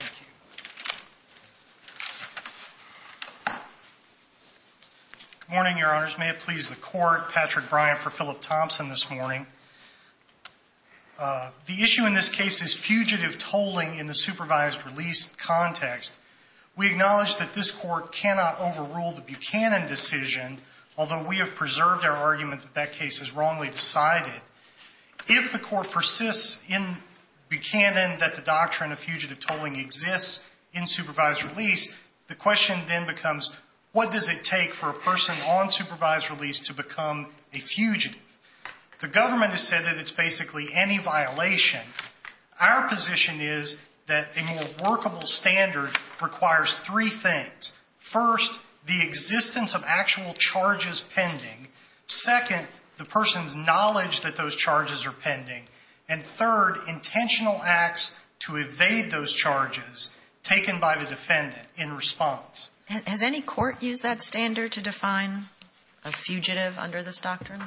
Good morning, your honors. May it please the court, Patrick Bryant for Phillip Thompson this morning. The issue in this case is fugitive tolling in the supervised release context. We acknowledge that this court cannot overrule the Buchanan decision, although we have preserved our argument that that case is wrongly decided. If the court persists in Buchanan that the doctrine of fugitive tolling exists in supervised release, the question then becomes, what does it take for a person on supervised release to become a fugitive? The government has said that it's basically any violation. Our position is that a more workable standard requires three things. First, the existence of actual charges pending. Second, the person's knowledge that those charges are pending. And third, intentional acts to evade those charges taken by the defendant in response. Has any court used that standard to define a fugitive under this doctrine?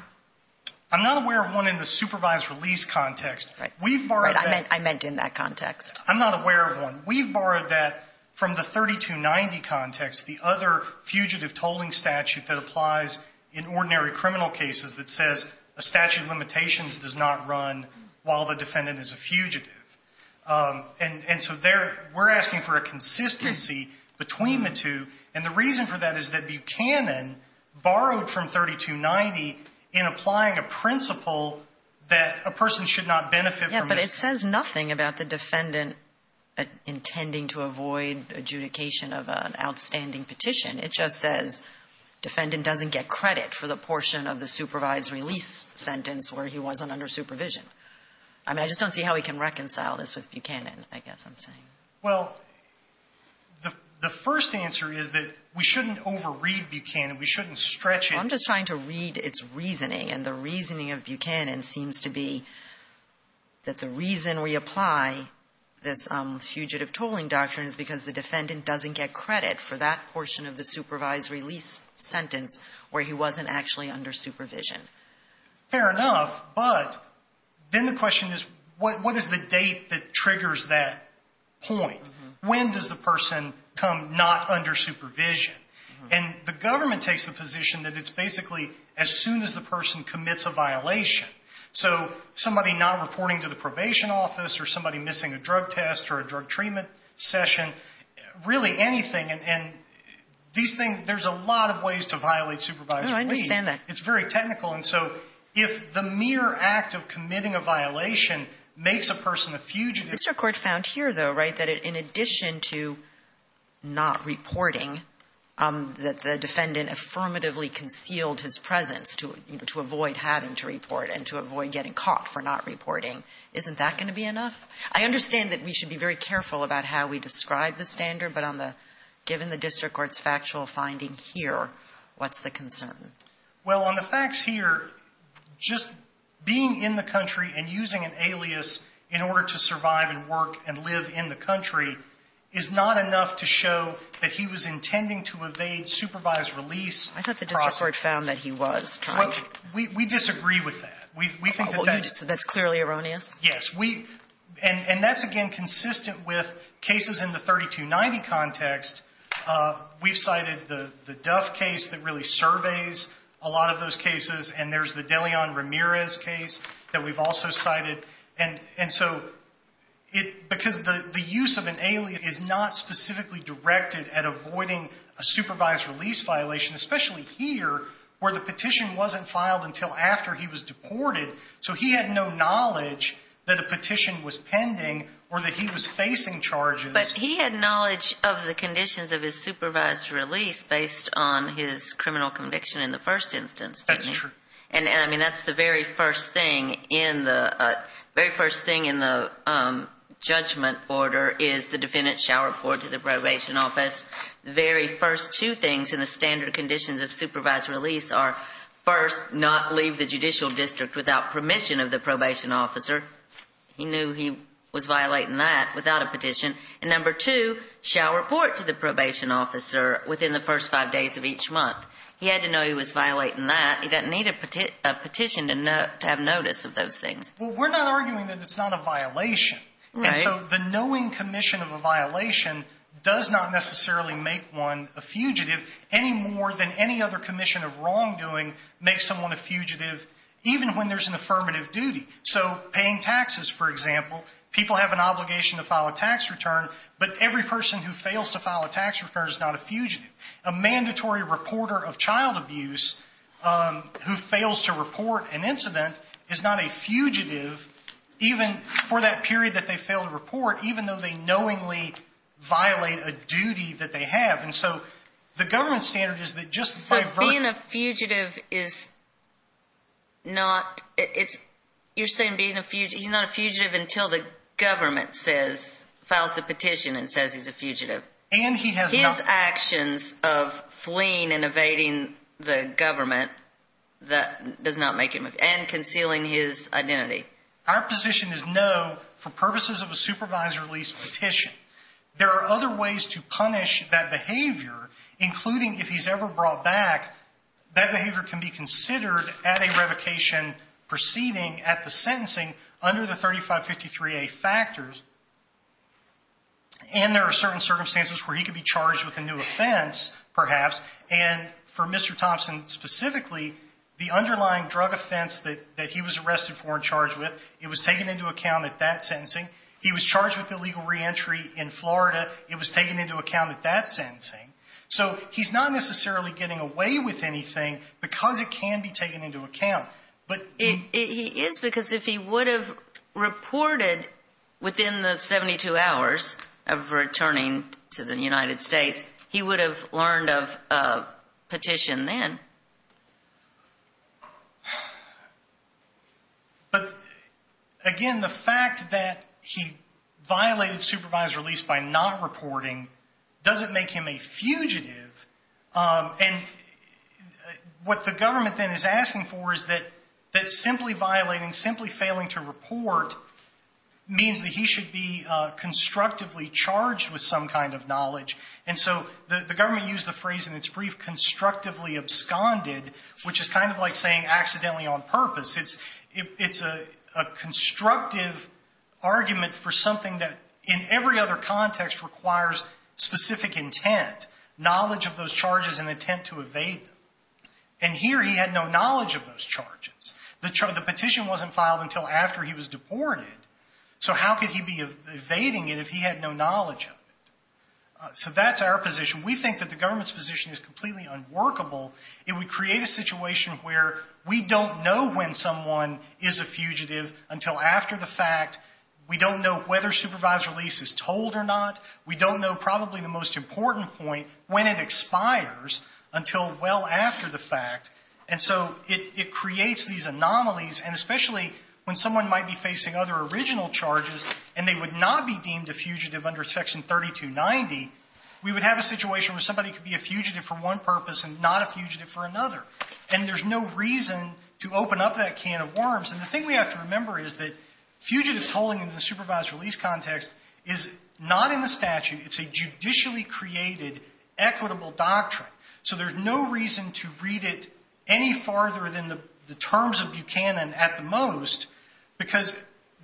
I'm not aware of one in the supervised release context. We've borrowed that. I meant in that context. I'm not aware of one. We've borrowed that from the 3290 context, the other fugitive tolling statute that applies in ordinary criminal cases that says a statute of limitations does not run while the defendant is a fugitive. And so there, we're asking for a consistency between the two. And the reason for that is that Buchanan borrowed from 3290 in applying a principle that a person should not benefit from this. It says nothing about the defendant intending to avoid adjudication of an outstanding petition. It just says defendant doesn't get credit for the portion of the supervised release sentence where he wasn't under supervision. I mean, I just don't see how we can reconcile this with Buchanan, I guess I'm saying. Well, the first answer is that we shouldn't overread Buchanan. We shouldn't stretch it. I'm just trying to read its reasoning. And the reasoning of Buchanan seems to be that the reason we apply this fugitive tolling doctrine is because the defendant doesn't get credit for that portion of the supervised release sentence where he wasn't actually under supervision. Fair enough. But then the question is, what is the date that triggers that point? When does the person come not under supervision? And the government takes the position that it's basically as soon as the person commits a violation. So somebody not reporting to the probation office or somebody missing a drug test or a drug treatment session, really anything. And these things, there's a lot of ways to violate supervised release. No, I understand that. It's very technical. And so if the mere act of committing a violation makes a person a fugitive. The district court found here, though, right, that in addition to not reporting, that the defendant affirmatively concealed his presence to avoid having to report and to avoid getting caught for not reporting. Isn't that going to be enough? I understand that we should be very careful about how we describe the standard. But on the, given the district court's factual finding here, what's the concern? Well, on the facts here, just being in the country and using an alias in order to survive and work and live in the country is not enough to show that he was intending to evade supervised release. I thought the district court found that he was. We disagree with that. We think that that's clearly erroneous. Yes. And that's, again, consistent with cases in the 3290 context. We've cited the Duff case that really surveys a lot of those cases. And there's the Deleon Ramirez case that we've also cited. And so because the use of an alias is not specifically directed at avoiding a supervised release violation, especially here, where the petition wasn't filed until after he was deported. So he had no knowledge that a petition was pending or that he was facing charges. But he had knowledge of the conditions of his supervised release based on his criminal conviction in the first instance. That's true. And I mean, that's the very first thing in the very first thing in the judgment order is the defendant shall report to the probation office. The very first two things in the standard conditions of supervised release are, first, not leave the judicial district without permission of the probation officer. He knew he was violating that without a petition. And number two, shall report to the probation officer within the first five days of each month. He had to know he was violating that. He doesn't need a petition to have notice of those things. Well, we're not arguing that it's not a violation. And so the knowing commission of a violation does not necessarily make one a fugitive any more than any other commission of wrongdoing makes someone a fugitive, even when there's an affirmative duty. So paying taxes, for example, people have an obligation to file a tax return, but every person who fails to file a tax return is not a fugitive. A mandatory reporter of child abuse who fails to report an incident is not a fugitive, even for that period that they failed to report, even though they knowingly violate a duty that they have. And so the government standard is that just by virtue of... So being a fugitive is not, it's, you're saying being a fugitive, he's not a fugitive until the government says, files the petition and says he's a fugitive. And he has not... There are other options of fleeing and evading the government that does not make him a fugitive and concealing his identity. Our position is no, for purposes of a supervisor-at-least petition, there are other ways to punish that behavior, including if he's ever brought back, that behavior can be considered at a revocation proceeding at the sentencing under the 3553A factors. And there are certain circumstances where he could be charged with a new offense, perhaps. And for Mr. Thompson specifically, the underlying drug offense that he was arrested for and charged with, it was taken into account at that sentencing. He was charged with illegal reentry in Florida. It was taken into account at that sentencing. So he's not necessarily getting away with anything because it can be taken into account. He is because if he would have reported within the 72 hours of returning to the United States, he would have learned of a petition then. But again, the fact that he violated supervisor-at-least by not reporting doesn't make him a fugitive. And what the government then is asking for is that simply violating, simply failing to report means that he should be constructively charged with some kind of knowledge. And so the government used the phrase in its brief, constructively absconded, which is kind of like saying accidentally on purpose. It's a constructive argument for something that in every other context requires specific intent, knowledge of those charges and attempt to evade them. And here he had no knowledge of those charges. The petition wasn't filed until after he was deported. So how could he be evading it if he had no knowledge of it? So that's our position. We think that the government's position is completely unworkable. It would create a situation where we don't know when someone is a fugitive until after the fact. We don't know whether supervisor-at-least is told or not. We don't know probably the most important point, when it expires, until well after the fact. And so it creates these anomalies, and especially when someone might be facing other original charges and they would not be deemed a fugitive under Section 3290, we would have a situation where somebody could be a fugitive for one purpose and not a fugitive for another. And there's no reason to open up that can of worms. And the thing we have to remember is that fugitive tolling in the supervisor-at-least context is not in the statute. It's a judicially created equitable doctrine. So there's no reason to read it any farther than the terms of Buchanan at the most, because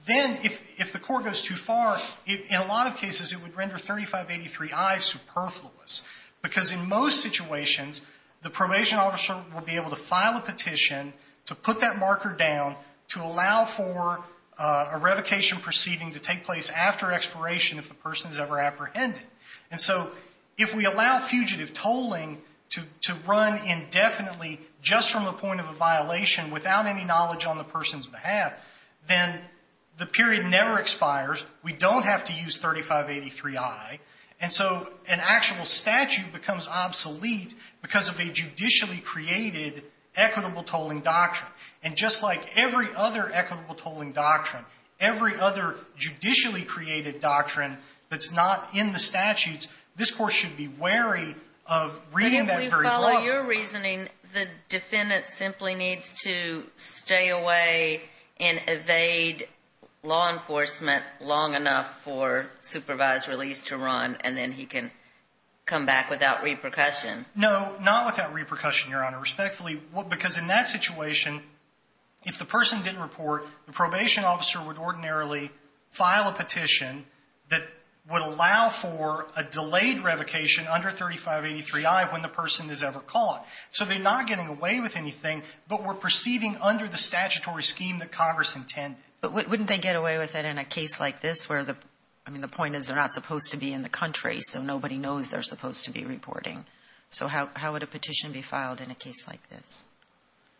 then if the court goes too far, in a lot of cases it would render 3583I superfluous. Because in most situations, the probation officer will be able to file a petition to put that marker down to allow for a revocation proceeding to take place after expiration if the person is ever apprehended. And so if we allow fugitive tolling to run indefinitely just from the point of a violation without any knowledge on the person's behalf, then the period never expires. We don't have to use 3583I. And so an actual statute becomes obsolete because of a judicially created equitable tolling doctrine. And just like every other equitable tolling doctrine, every other judicially created doctrine that's not in the statutes, this court should be wary of reading that very well. But if we follow your reasoning, the defendant simply needs to stay away and evade law enforcement long enough for supervisor-at-least to run, and then he can come back without repercussion. No, not without repercussion, Your Honor. Respectfully, because in that situation, if the person didn't report, the probation officer would ordinarily file a petition that would allow for a delayed revocation under 3583I when the person is ever caught. So they're not getting away with anything, but we're perceiving under the statutory scheme that Congress intended. But wouldn't they get away with it in a case like this where the – I mean, the point is they're not supposed to be in the country, so nobody knows they're supposed to be reporting. So how would a petition be filed in a case like this?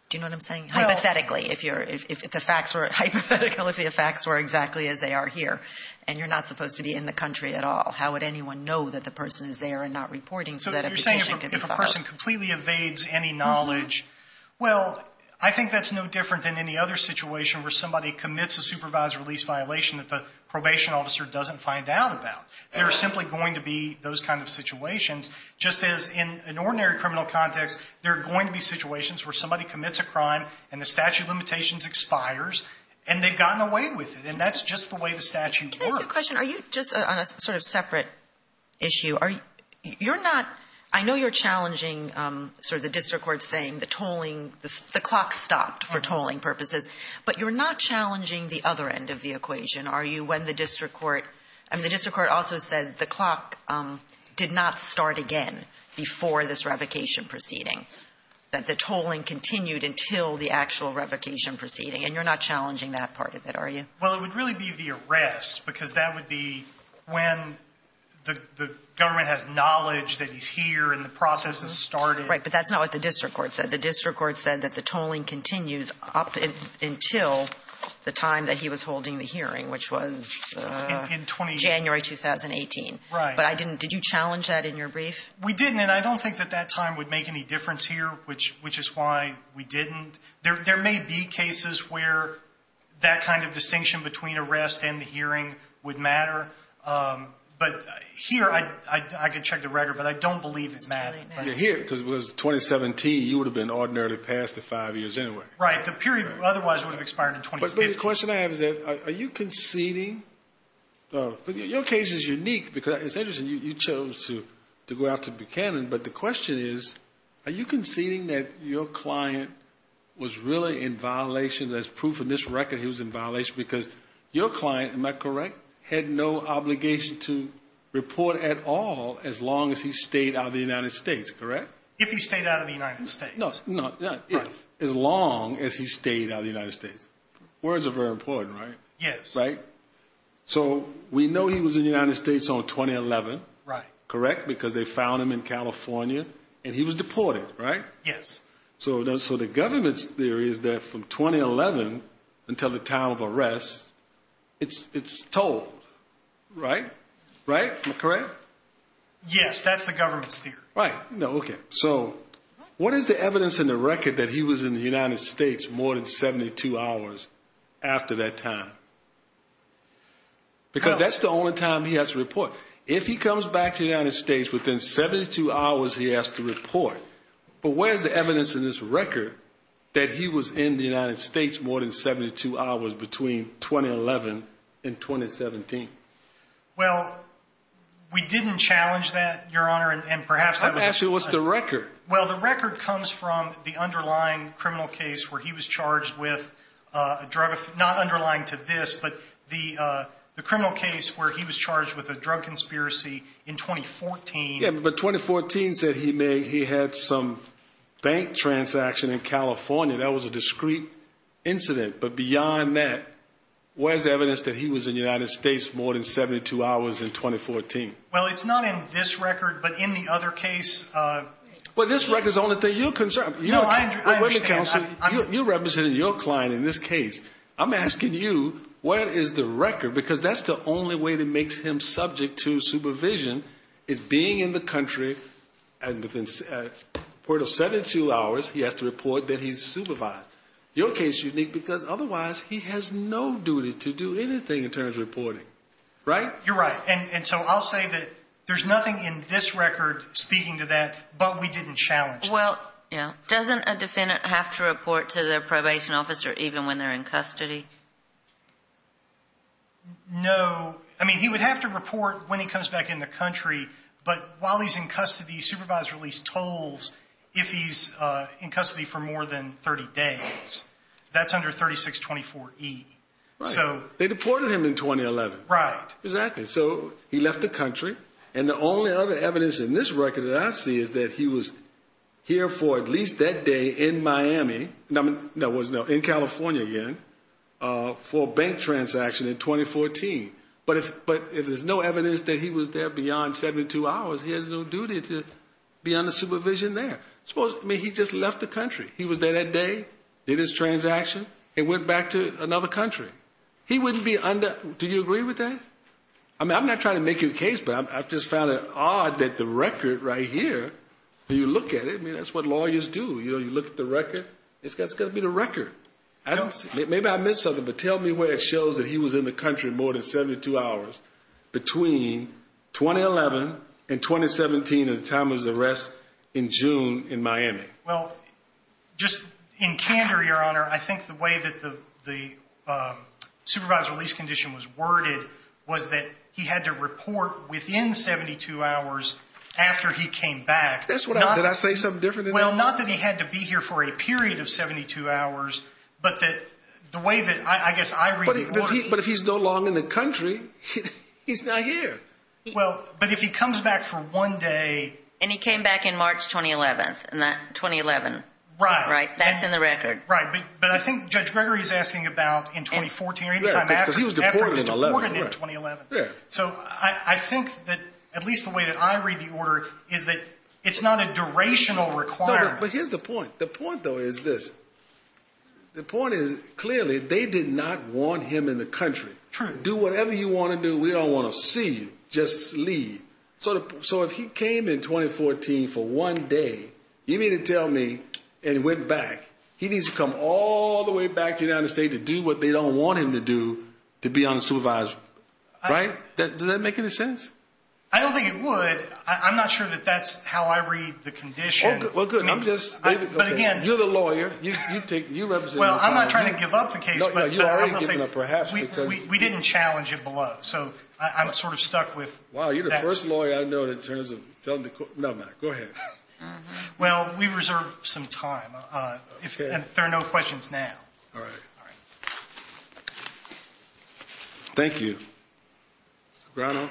Do you know what I'm saying? Hypothetically, if you're – if the facts were hypothetical, if the facts were exactly as they are here, and you're not supposed to be in the country at all, how would anyone know that the person is there and not reporting so that a petition could be filed? So you're saying if a person completely evades any knowledge – well, I think that's no different than any other situation where somebody commits a supervisor-at-least violation that the probation officer doesn't find out about. There are simply going to be those kind of situations, just as in an ordinary criminal context, there are going to be situations where somebody commits a crime and the statute of limitations expires, and they've gotten away with it. And that's just the way the statute works. Can I ask you a question? Are you just on a sort of separate issue? Are you – you're not – I know you're challenging sort of the district court saying the tolling – the clock stopped for tolling purposes. I mean, the district court also said the clock did not start again before this revocation proceeding, that the tolling continued until the actual revocation proceeding. And you're not challenging that part of it, are you? Well, it would really be the arrest, because that would be when the government has knowledge that he's here and the process has started. Right, but that's not what the district court said. The district court said that the tolling continues up until the time that he was holding the hearing, which was January 2018. Right. But I didn't – did you challenge that in your brief? We didn't, and I don't think that that time would make any difference here, which is why we didn't. There may be cases where that kind of distinction between arrest and the hearing would matter. But here, I could check the record, but I don't believe it matters. Here, because it was 2017, you would have been ordinarily passed at five years anyway. Right. The period otherwise would have expired in 2015. But the question I have is that, are you conceding – your case is unique, because it's interesting, you chose to go out to Buchanan, but the question is, are you conceding that your client was really in violation – there's proof in this record he was in violation, because your client, am I correct, had no obligation to report at all as long as he stayed out of the United States, correct? If he stayed out of the United States. No, not if. As long as he stayed out of the United States. Words are very important, right? Yes. Right? So we know he was in the United States on 2011. Right. Correct? Because they found him in California, and he was deported, right? Yes. So the government's theory is that from 2011 until the time of arrest, it's told, right? Right? Am I correct? Yes, that's the government's theory. Right. No, okay. So what is the evidence in the record that he was in the United States more than 72 hours after that time? Because that's the only time he has to report. If he comes back to the United States within 72 hours, he has to report. But where's the evidence in this record that he was in the United States more than 72 hours between 2011 and 2017? Well, we didn't challenge that, Your Honor, and perhaps that was actually – I'm asking what's the record. Well, the record comes from the underlying criminal case where he was charged with a drug – not underlying to this, but the criminal case where he was charged with a drug conspiracy in 2014. Yeah, but 2014 said he had some bank transaction in California. That was a discrete incident. But beyond that, where's the evidence that he was in the United States more than 72 hours in 2014? Well, it's not in this record, but in the other case – Well, this record's the only thing you're concerned – No, I understand. You're representing your client in this case. I'm asking you where is the record because that's the only way that makes him subject to supervision is being in the country and within a period of 72 hours he has to report that he's supervised. Your case is unique because otherwise he has no duty to do anything in terms of reporting. Right? You're right. And so I'll say that there's nothing in this record speaking to that, but we didn't challenge it. Well, yeah. Doesn't a defendant have to report to their probation officer even when they're in custody? No. I mean, he would have to report when he comes back in the country, but while he's in custody he's supervised at least tolls if he's in custody for more than 30 days. That's under 3624E. Right. They deported him in 2011. Right. Exactly. So he left the country, and the only other evidence in this record that I see is that he was here for at least that day in Miami, no, in California again, for a bank transaction in 2014. But if there's no evidence that he was there beyond 72 hours, he has no duty to be under supervision there. I mean, he just left the country. He was there that day, did his transaction, and went back to another country. Do you agree with that? I mean, I'm not trying to make you a case, but I just found it odd that the record right here, when you look at it, I mean, that's what lawyers do. You look at the record, it's got to be the record. Maybe I missed something, but tell me where it shows that he was in the country more than 72 hours between 2011 and 2017 and the time of his arrest in June in Miami. Well, just in candor, Your Honor, I think the way that the supervisor release condition was worded was that he had to report within 72 hours after he came back. Did I say something different? Well, not that he had to be here for a period of 72 hours, but that the way that I guess I read the court. But if he's no longer in the country, he's not here. Well, but if he comes back for one day. And he came back in March 2011, right? That's in the record. Right, but I think Judge Gregory is asking about in 2014 or any time after he was deported in 2011. So I think that at least the way that I read the order is that it's not a durational requirement. No, but here's the point. The point, though, is this. The point is clearly they did not want him in the country. Do whatever you want to do. We don't want to see you. Just leave. So if he came in 2014 for one day, you mean to tell me and went back, he needs to come all the way back to the United States to do what they don't want him to do to be on the supervisor. Right? Does that make any sense? I don't think it would. I'm not sure that that's how I read the condition. Well, good. You're the lawyer. Well, I'm not trying to give up the case, but I'm going to say we didn't challenge it below. So I'm sort of stuck with that. Wow, you're the first lawyer I've known in terms of telling the court. No, I'm not. Go ahead. Well, we've reserved some time. Okay. If there are no questions now. All right. All right. Thank you. Sobrano.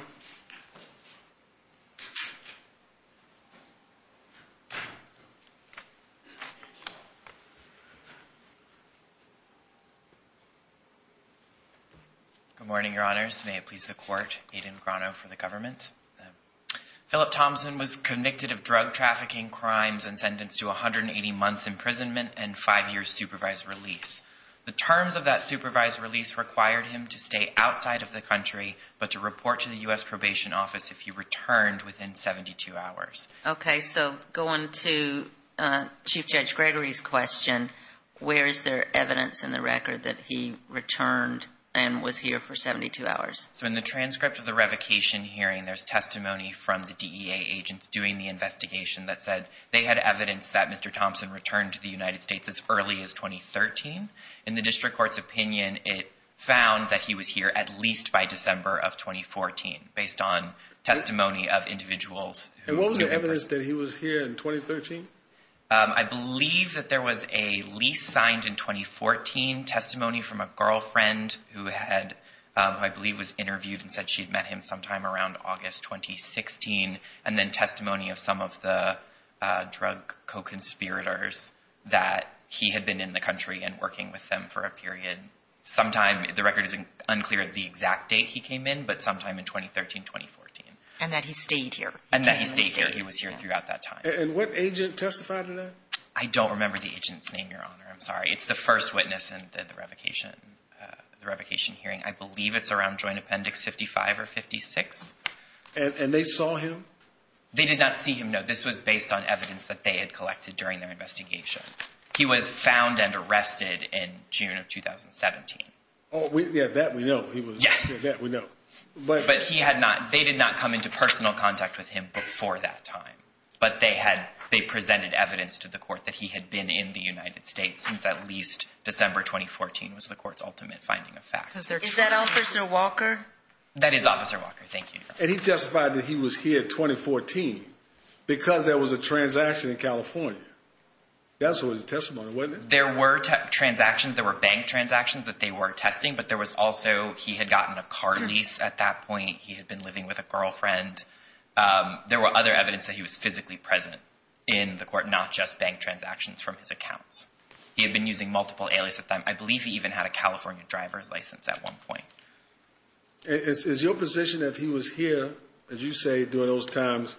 Good morning. Good morning, Your Honors. May it please the court, Aiden Sobrano for the government. Philip Thompson was convicted of drug trafficking crimes and sentenced to 180 months imprisonment and five years supervised release. The terms of that supervised release required him to stay outside of the country but to report to the U.S. Probation Office if he returned within 72 hours. Okay. So going to Chief Judge Gregory's question, where is there evidence in the record that he returned and was here for 72 hours? So in the transcript of the revocation hearing, there's testimony from the DEA agents doing the investigation that said they had evidence that Mr. Thompson returned to the United States as early as 2013. In the district court's opinion, it found that he was here at least by December of 2014 based on testimony of individuals. And what was the evidence that he was here in 2013? I believe that there was a lease signed in 2014, testimony from a girlfriend who had, who I believe was interviewed and said she had met him sometime around August 2016, and then testimony of some of the drug co-conspirators that he had been in the country and working with them for a period. Sometime, the record isn't unclear at the exact date he came in, but sometime in 2013, 2014. And that he stayed here. And that he stayed here. He was here throughout that time. And what agent testified to that? I don't remember the agent's name, Your Honor. I'm sorry. It's the first witness in the revocation hearing. I believe it's around Joint Appendix 55 or 56. And they saw him? They did not see him, no. This was based on evidence that they had collected during their investigation. He was found and arrested in June of 2017. Oh, yeah, that we know. Yes. That we know. But he had not, they did not come into personal contact with him before that time. But they had, they presented evidence to the court that he had been in the United States since at least December 2014 was the court's ultimate finding of facts. Is that Officer Walker? That is Officer Walker. Thank you, Your Honor. And he testified that he was here in 2014 because there was a transaction in California. That was his testimony, wasn't it? There were transactions, there were bank transactions that they were testing, but there was also, he had gotten a car lease at that point. He had been living with a girlfriend. There were other evidence that he was physically present in the court, not just bank transactions from his accounts. He had been using multiple alias at the time. I believe he even had a California driver's license at one point. Is your position that he was here, as you say, during those times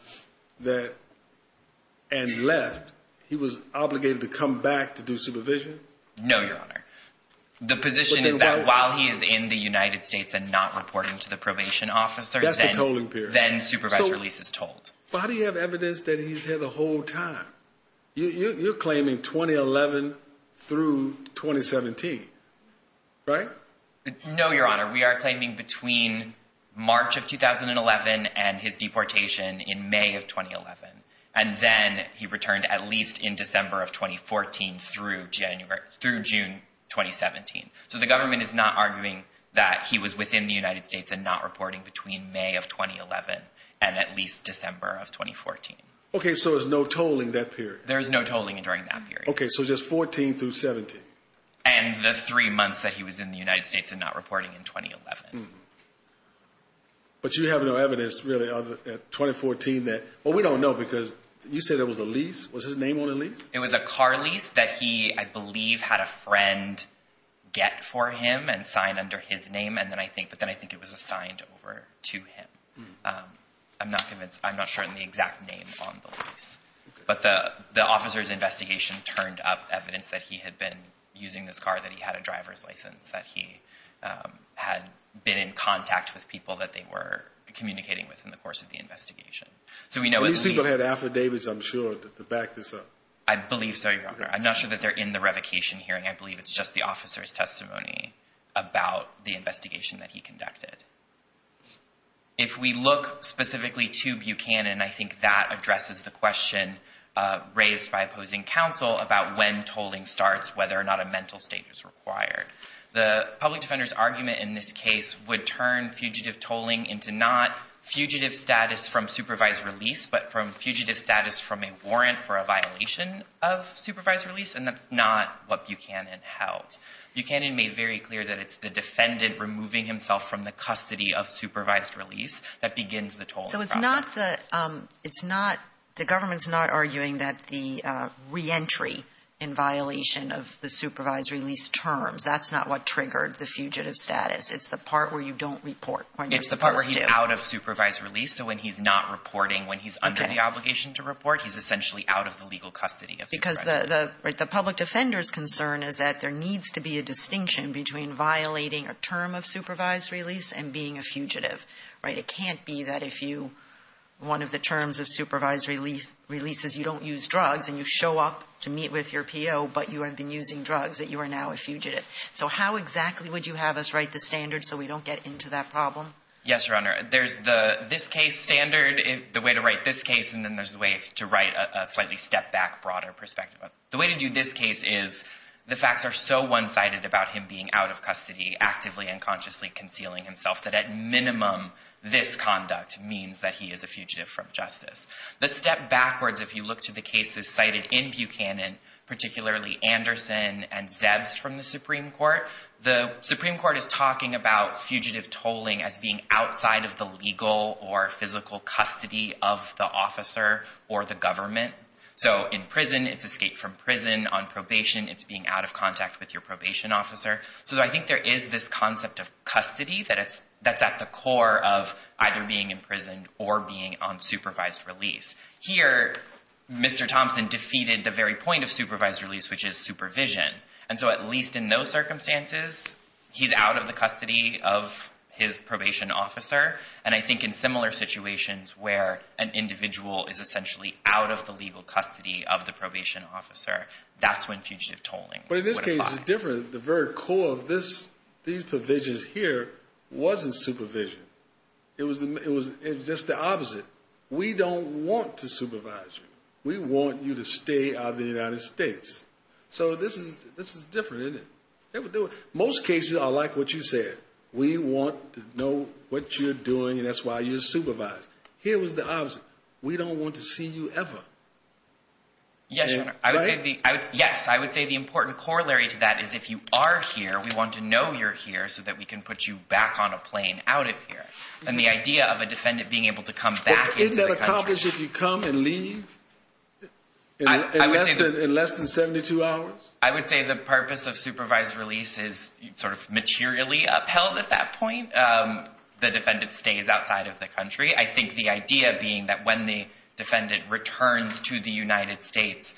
that, and left, he was obligated to come back to do supervision? No, Your Honor. The position is that while he is in the United States and not reporting to the probation officers, then supervised release is told. But how do you have evidence that he's here the whole time? You're claiming 2011 through 2017, right? No, Your Honor. We are claiming between March of 2011 and his deportation in May of 2011. And then he returned at least in December of 2014 through June 2017. So the government is not arguing that he was within the United States and not reporting between May of 2011 and at least December of 2014. Okay, so there's no tolling that period. There's no tolling during that period. Okay, so just 14 through 17. And the three months that he was in the United States and not reporting in 2011. But you have no evidence, really, of 2014 that, well, we don't know because you said there was a lease. Was his name on the lease? It was a car lease that he, I believe, had a friend get for him and sign under his name. And then I think, but then I think it was assigned over to him. I'm not convinced. I'm not sure on the exact name on the lease. But the officer's investigation turned up evidence that he had been using this car, that he had a driver's license, that he had been in contact with people that they were communicating with in the course of the investigation. So we know at least. These people had affidavits, I'm sure, to back this up. I believe so, Your Honor. I'm not sure that they're in the revocation hearing. I believe it's just the officer's testimony about the investigation that he conducted. If we look specifically to Buchanan, I think that addresses the question raised by opposing counsel about when tolling starts, whether or not a mental state is required. The public defender's argument in this case would turn fugitive tolling into not fugitive status from supervised release, but from fugitive status from a warrant for a violation of supervised release. And that's not what Buchanan held. Buchanan made very clear that it's the defendant removing himself from the custody of supervised release that begins the tolling process. So it's not the government's not arguing that the reentry in violation of the supervised release terms, that's not what triggered the fugitive status. It's the part where you don't report when you're supposed to. It's the part where he's out of supervised release. So when he's not reporting, when he's under the obligation to report, he's essentially out of the legal custody of supervised release. The public defender's concern is that there needs to be a distinction between violating a term of supervised release and being a fugitive. It can't be that if one of the terms of supervised release is you don't use drugs and you show up to meet with your P.O., but you have been using drugs, that you are now a fugitive. So how exactly would you have us write the standard so we don't get into that problem? Yes, Your Honor. There's the this case standard, the way to write this case, and then there's a way to write a slightly step back, broader perspective. The way to do this case is the facts are so one-sided about him being out of custody, actively and consciously concealing himself, that at minimum this conduct means that he is a fugitive from justice. The step backwards, if you look to the cases cited in Buchanan, particularly Anderson and Zebst from the Supreme Court, the Supreme Court is talking about fugitive tolling as being outside of the legal or physical custody of the officer or the government. So in prison, it's escape from prison. On probation, it's being out of contact with your probation officer. So I think there is this concept of custody that's at the core of either being in prison or being on supervised release. Here, Mr. Thompson defeated the very point of supervised release, which is supervision. And so at least in those circumstances, he's out of the custody of his probation officer. And I think in similar situations where an individual is essentially out of the legal custody of the probation officer, that's when fugitive tolling would apply. But in this case, it's different. The very core of these provisions here wasn't supervision. It was just the opposite. We don't want to supervise you. We want you to stay out of the United States. So this is different, isn't it? Most cases are like what you said. We want to know what you're doing, and that's why you're supervised. Here was the opposite. We don't want to see you ever. Yes, I would say the important corollary to that is if you are here, we want to know you're here so that we can put you back on a plane out of here. And the idea of a defendant being able to come back into the country. Isn't that accomplished if you come and leave in less than 72 hours? I would say the purpose of supervised release is sort of materially upheld at that point. The defendant stays outside of the country. I think the idea being that when the defendant returns to the United States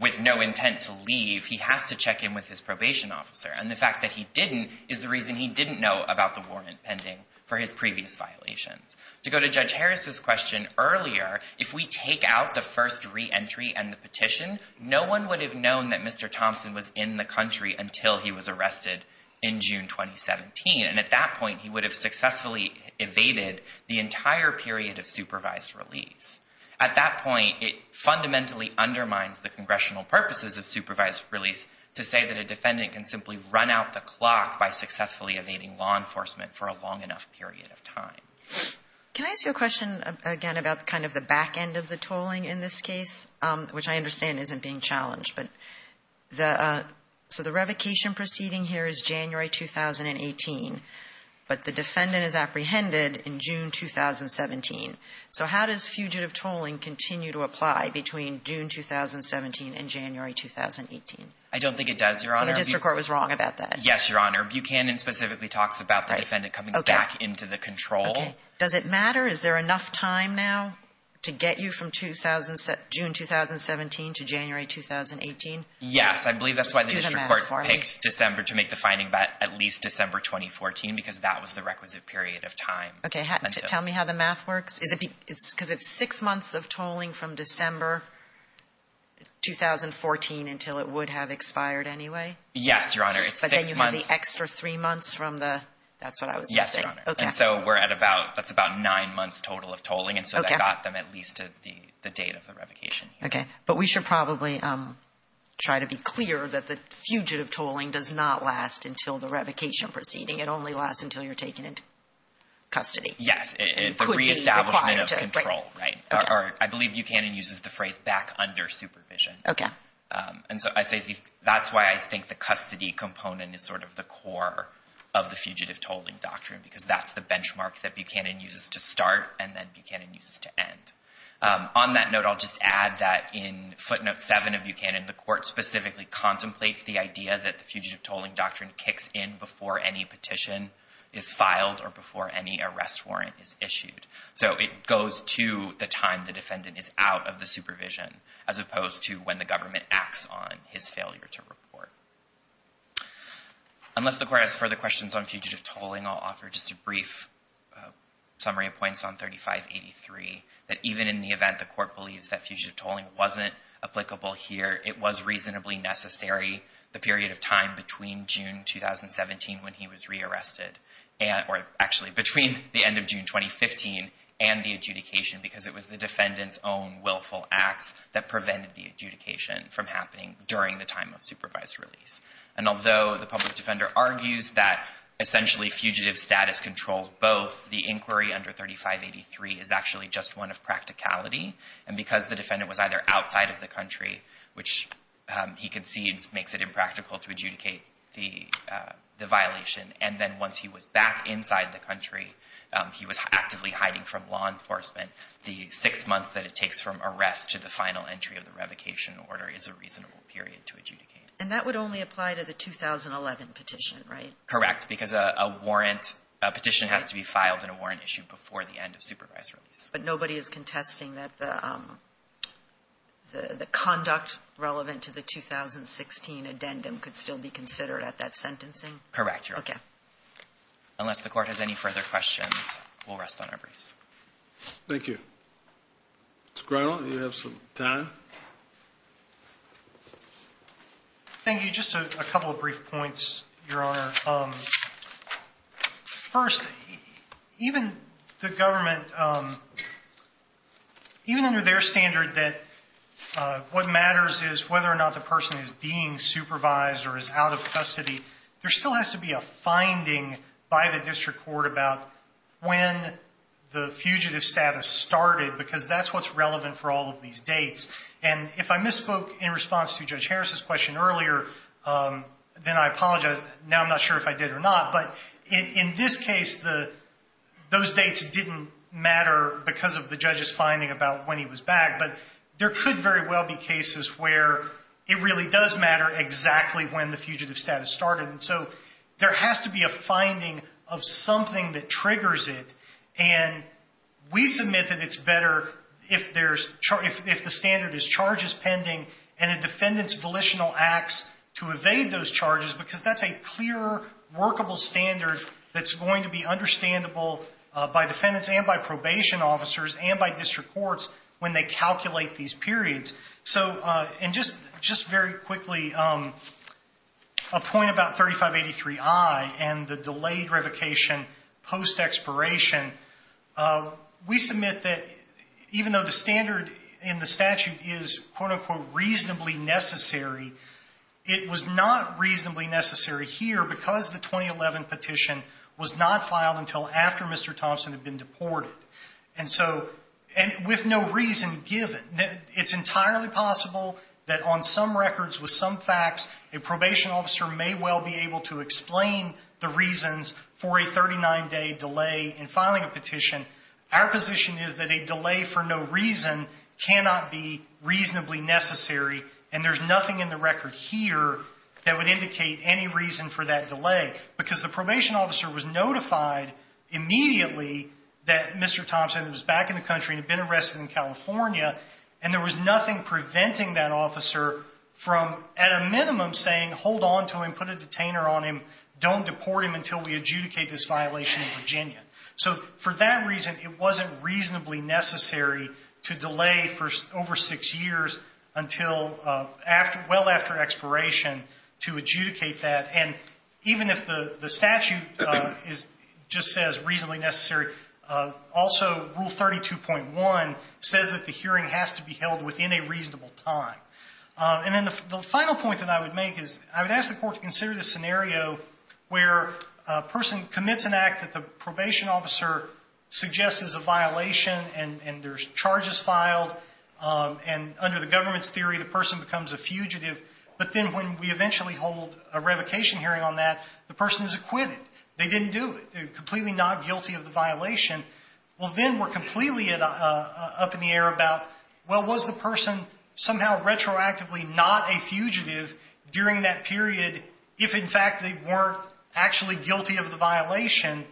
with no intent to leave, he has to check in with his probation officer. And the fact that he didn't is the reason he didn't know about the warrant pending for his previous violations. To go to Judge Harris's question earlier, if we take out the first reentry and the petition, no one would have known that Mr. Thompson was in the country until he was arrested in June 2017. And at that point, he would have successfully evaded the entire period of supervised release. At that point, it fundamentally undermines the congressional purposes of supervised release to say that a defendant can simply run out the clock by successfully evading law enforcement for a long enough period of time. Can I ask you a question again about kind of the back end of the tolling in this case, which I understand isn't being challenged? But the so the revocation proceeding here is January 2018, but the defendant is apprehended in June 2017. So how does fugitive tolling continue to apply between June 2017 and January 2018? I don't think it does, Your Honor. So the district court was wrong about that? Yes, Your Honor. Buchanan specifically talks about the defendant coming back into the control. Does it matter? Is there enough time now to get you from June 2017 to January 2018? Yes, I believe that's why the district court picks December to make the finding about at least December 2014, because that was the requisite period of time. Okay. Tell me how the math works. Is it because it's six months of tolling from December 2014 until it would have expired anyway? Yes, Your Honor. But then you have the extra three months from the, that's what I was going to say. Yes, Your Honor. And so we're at about, that's about nine months total of tolling. And so that got them at least to the date of the revocation. Okay. But we should probably try to be clear that the fugitive tolling does not last until the revocation proceeding. It only lasts until you're taken into custody. Yes, the reestablishment of control, right. I believe Buchanan uses the phrase back under supervision. Okay. And so I say that's why I think the custody component is sort of the core of the fugitive tolling doctrine, because that's the benchmark that Buchanan uses to start and then Buchanan uses to end. On that note, I'll just add that in footnote seven of Buchanan, the court specifically contemplates the idea that the fugitive tolling doctrine kicks in before any petition is filed or before any arrest warrant is issued. So it goes to the time the defendant is out of the supervision, as opposed to when the government acts on his failure to report. Unless the court has further questions on fugitive tolling, I'll offer just a brief summary of points on 3583, that even in the event the court believes that fugitive tolling wasn't applicable here, it was reasonably necessary the period of time between June 2017 when he was rearrested, or actually between the end of June 2015 and the adjudication, because it was the defendant's own willful acts that prevented the adjudication from happening during the time of supervised release. And although the public defender argues that essentially fugitive status controls both, the inquiry under 3583 is actually just one of practicality, and because the defendant was either outside of the country, which he concedes makes it impractical to adjudicate the violation, and then once he was back inside the country, he was actively hiding from law enforcement, the six months that it takes from arrest to the final entry of the revocation order is a reasonable period to adjudicate. And that would only apply to the 2011 petition, right? Correct, because a warrant, a petition has to be filed in a warrant issued before the end of supervised release. But nobody is contesting that the conduct relevant to the 2016 addendum could still be considered at that sentencing? Correct, Your Honor. Okay. Unless the court has any further questions, we'll rest on our briefs. Thank you. Mr. Grinnell, you have some time. Thank you. Just a couple of brief points, Your Honor. First, even the government, even under their standard that what matters is whether or not the person is being supervised or is out of custody, there still has to be a finding by the district court about when the fugitive status started, because that's what's relevant for all of these dates. And if I misspoke in response to Judge Harris's question earlier, then I apologize. Now I'm not sure if I did or not. But in this case, those dates didn't matter because of the judge's finding about when he was back. But there could very well be cases where it really does matter exactly when the fugitive status started. And so there has to be a finding of something that triggers it. And we submit that it's better if the standard is charges pending and a defendant's volitional acts to evade those charges because that's a clear, workable standard that's going to be understandable by defendants and by probation officers and by district courts when they calculate these periods. And just very quickly, a point about 3583I and the delayed revocation post-expiration. We submit that even though the standard in the statute is, quote, unquote, reasonably necessary, it was not reasonably necessary here because the 2011 petition was not filed until after Mr. Thompson had been deported. And so with no reason given, it's entirely possible that on some records with some facts, a probation officer may well be able to explain the reasons for a 39-day delay in filing a petition. Our position is that a delay for no reason cannot be reasonably necessary, and there's nothing in the record here that would indicate any reason for that delay because the probation officer was notified immediately that Mr. Thompson was back in the country and had been arrested in California, and there was nothing preventing that officer from, at a minimum, saying hold on to him, put a detainer on him, don't deport him until we adjudicate this violation in Virginia. So for that reason, it wasn't reasonably necessary to delay for over six years until well after expiration to adjudicate that. And even if the statute just says reasonably necessary, also Rule 32.1 says that the hearing has to be held within a reasonable time. And then the final point that I would make is I would ask the court to consider the scenario where a person commits an act that the probation officer suggests is a violation, and there's charges filed, and under the government's theory, the person becomes a fugitive. But then when we eventually hold a revocation hearing on that, the person is acquitted. They didn't do it. They're completely not guilty of the violation. Well, then we're completely up in the air about, well, was the person somehow retroactively not a fugitive during that period if, in fact, they weren't actually guilty of the violation?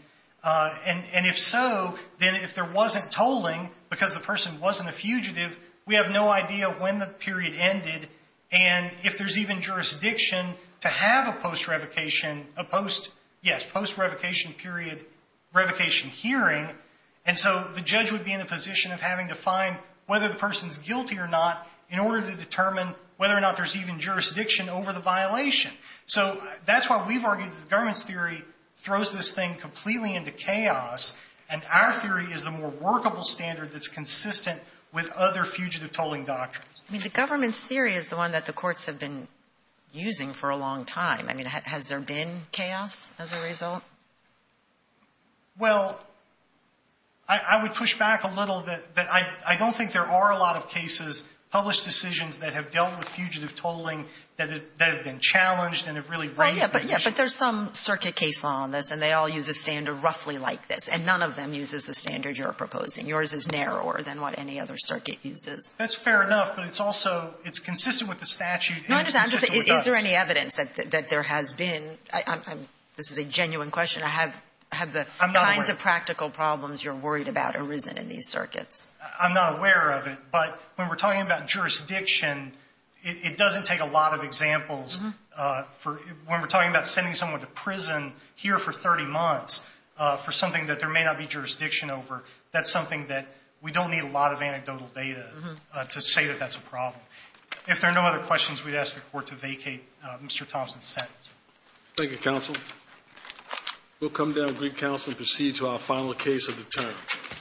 And if so, then if there wasn't tolling because the person wasn't a fugitive, we have no idea when the period ended and if there's even jurisdiction to have a post-revocation period revocation hearing. And so the judge would be in a position of having to find whether the person's guilty or not in order to determine whether or not there's even jurisdiction over the violation. So that's why we've argued that the government's theory throws this thing completely into chaos, and our theory is the more workable standard that's consistent with other fugitive tolling doctrines. I mean, the government's theory is the one that the courts have been using for a long time. I mean, has there been chaos as a result? Well, I would push back a little that I don't think there are a lot of cases, published decisions that have dealt with fugitive tolling that have been challenged and have really raised the issue. But there's some circuit case law on this, and they all use a standard roughly like this, and none of them uses the standard you're proposing. Yours is narrower than what any other circuit uses. That's fair enough, but it's also – it's consistent with the statute and it's consistent with others. Is there any evidence that there has been – this is a genuine question. I have the kinds of practical problems you're worried about arisen in these circuits. I'm not aware of it, but when we're talking about jurisdiction, it doesn't take a lot of examples. When we're talking about sending someone to prison here for 30 months for something that there may not be jurisdiction over, that's something that we don't need a lot of anecdotal data to say that that's a problem. If there are no other questions, we'd ask the Court to vacate Mr. Thompson's sentence. Thank you, counsel. We'll come down to Greek Counsel and proceed to our final case of the day.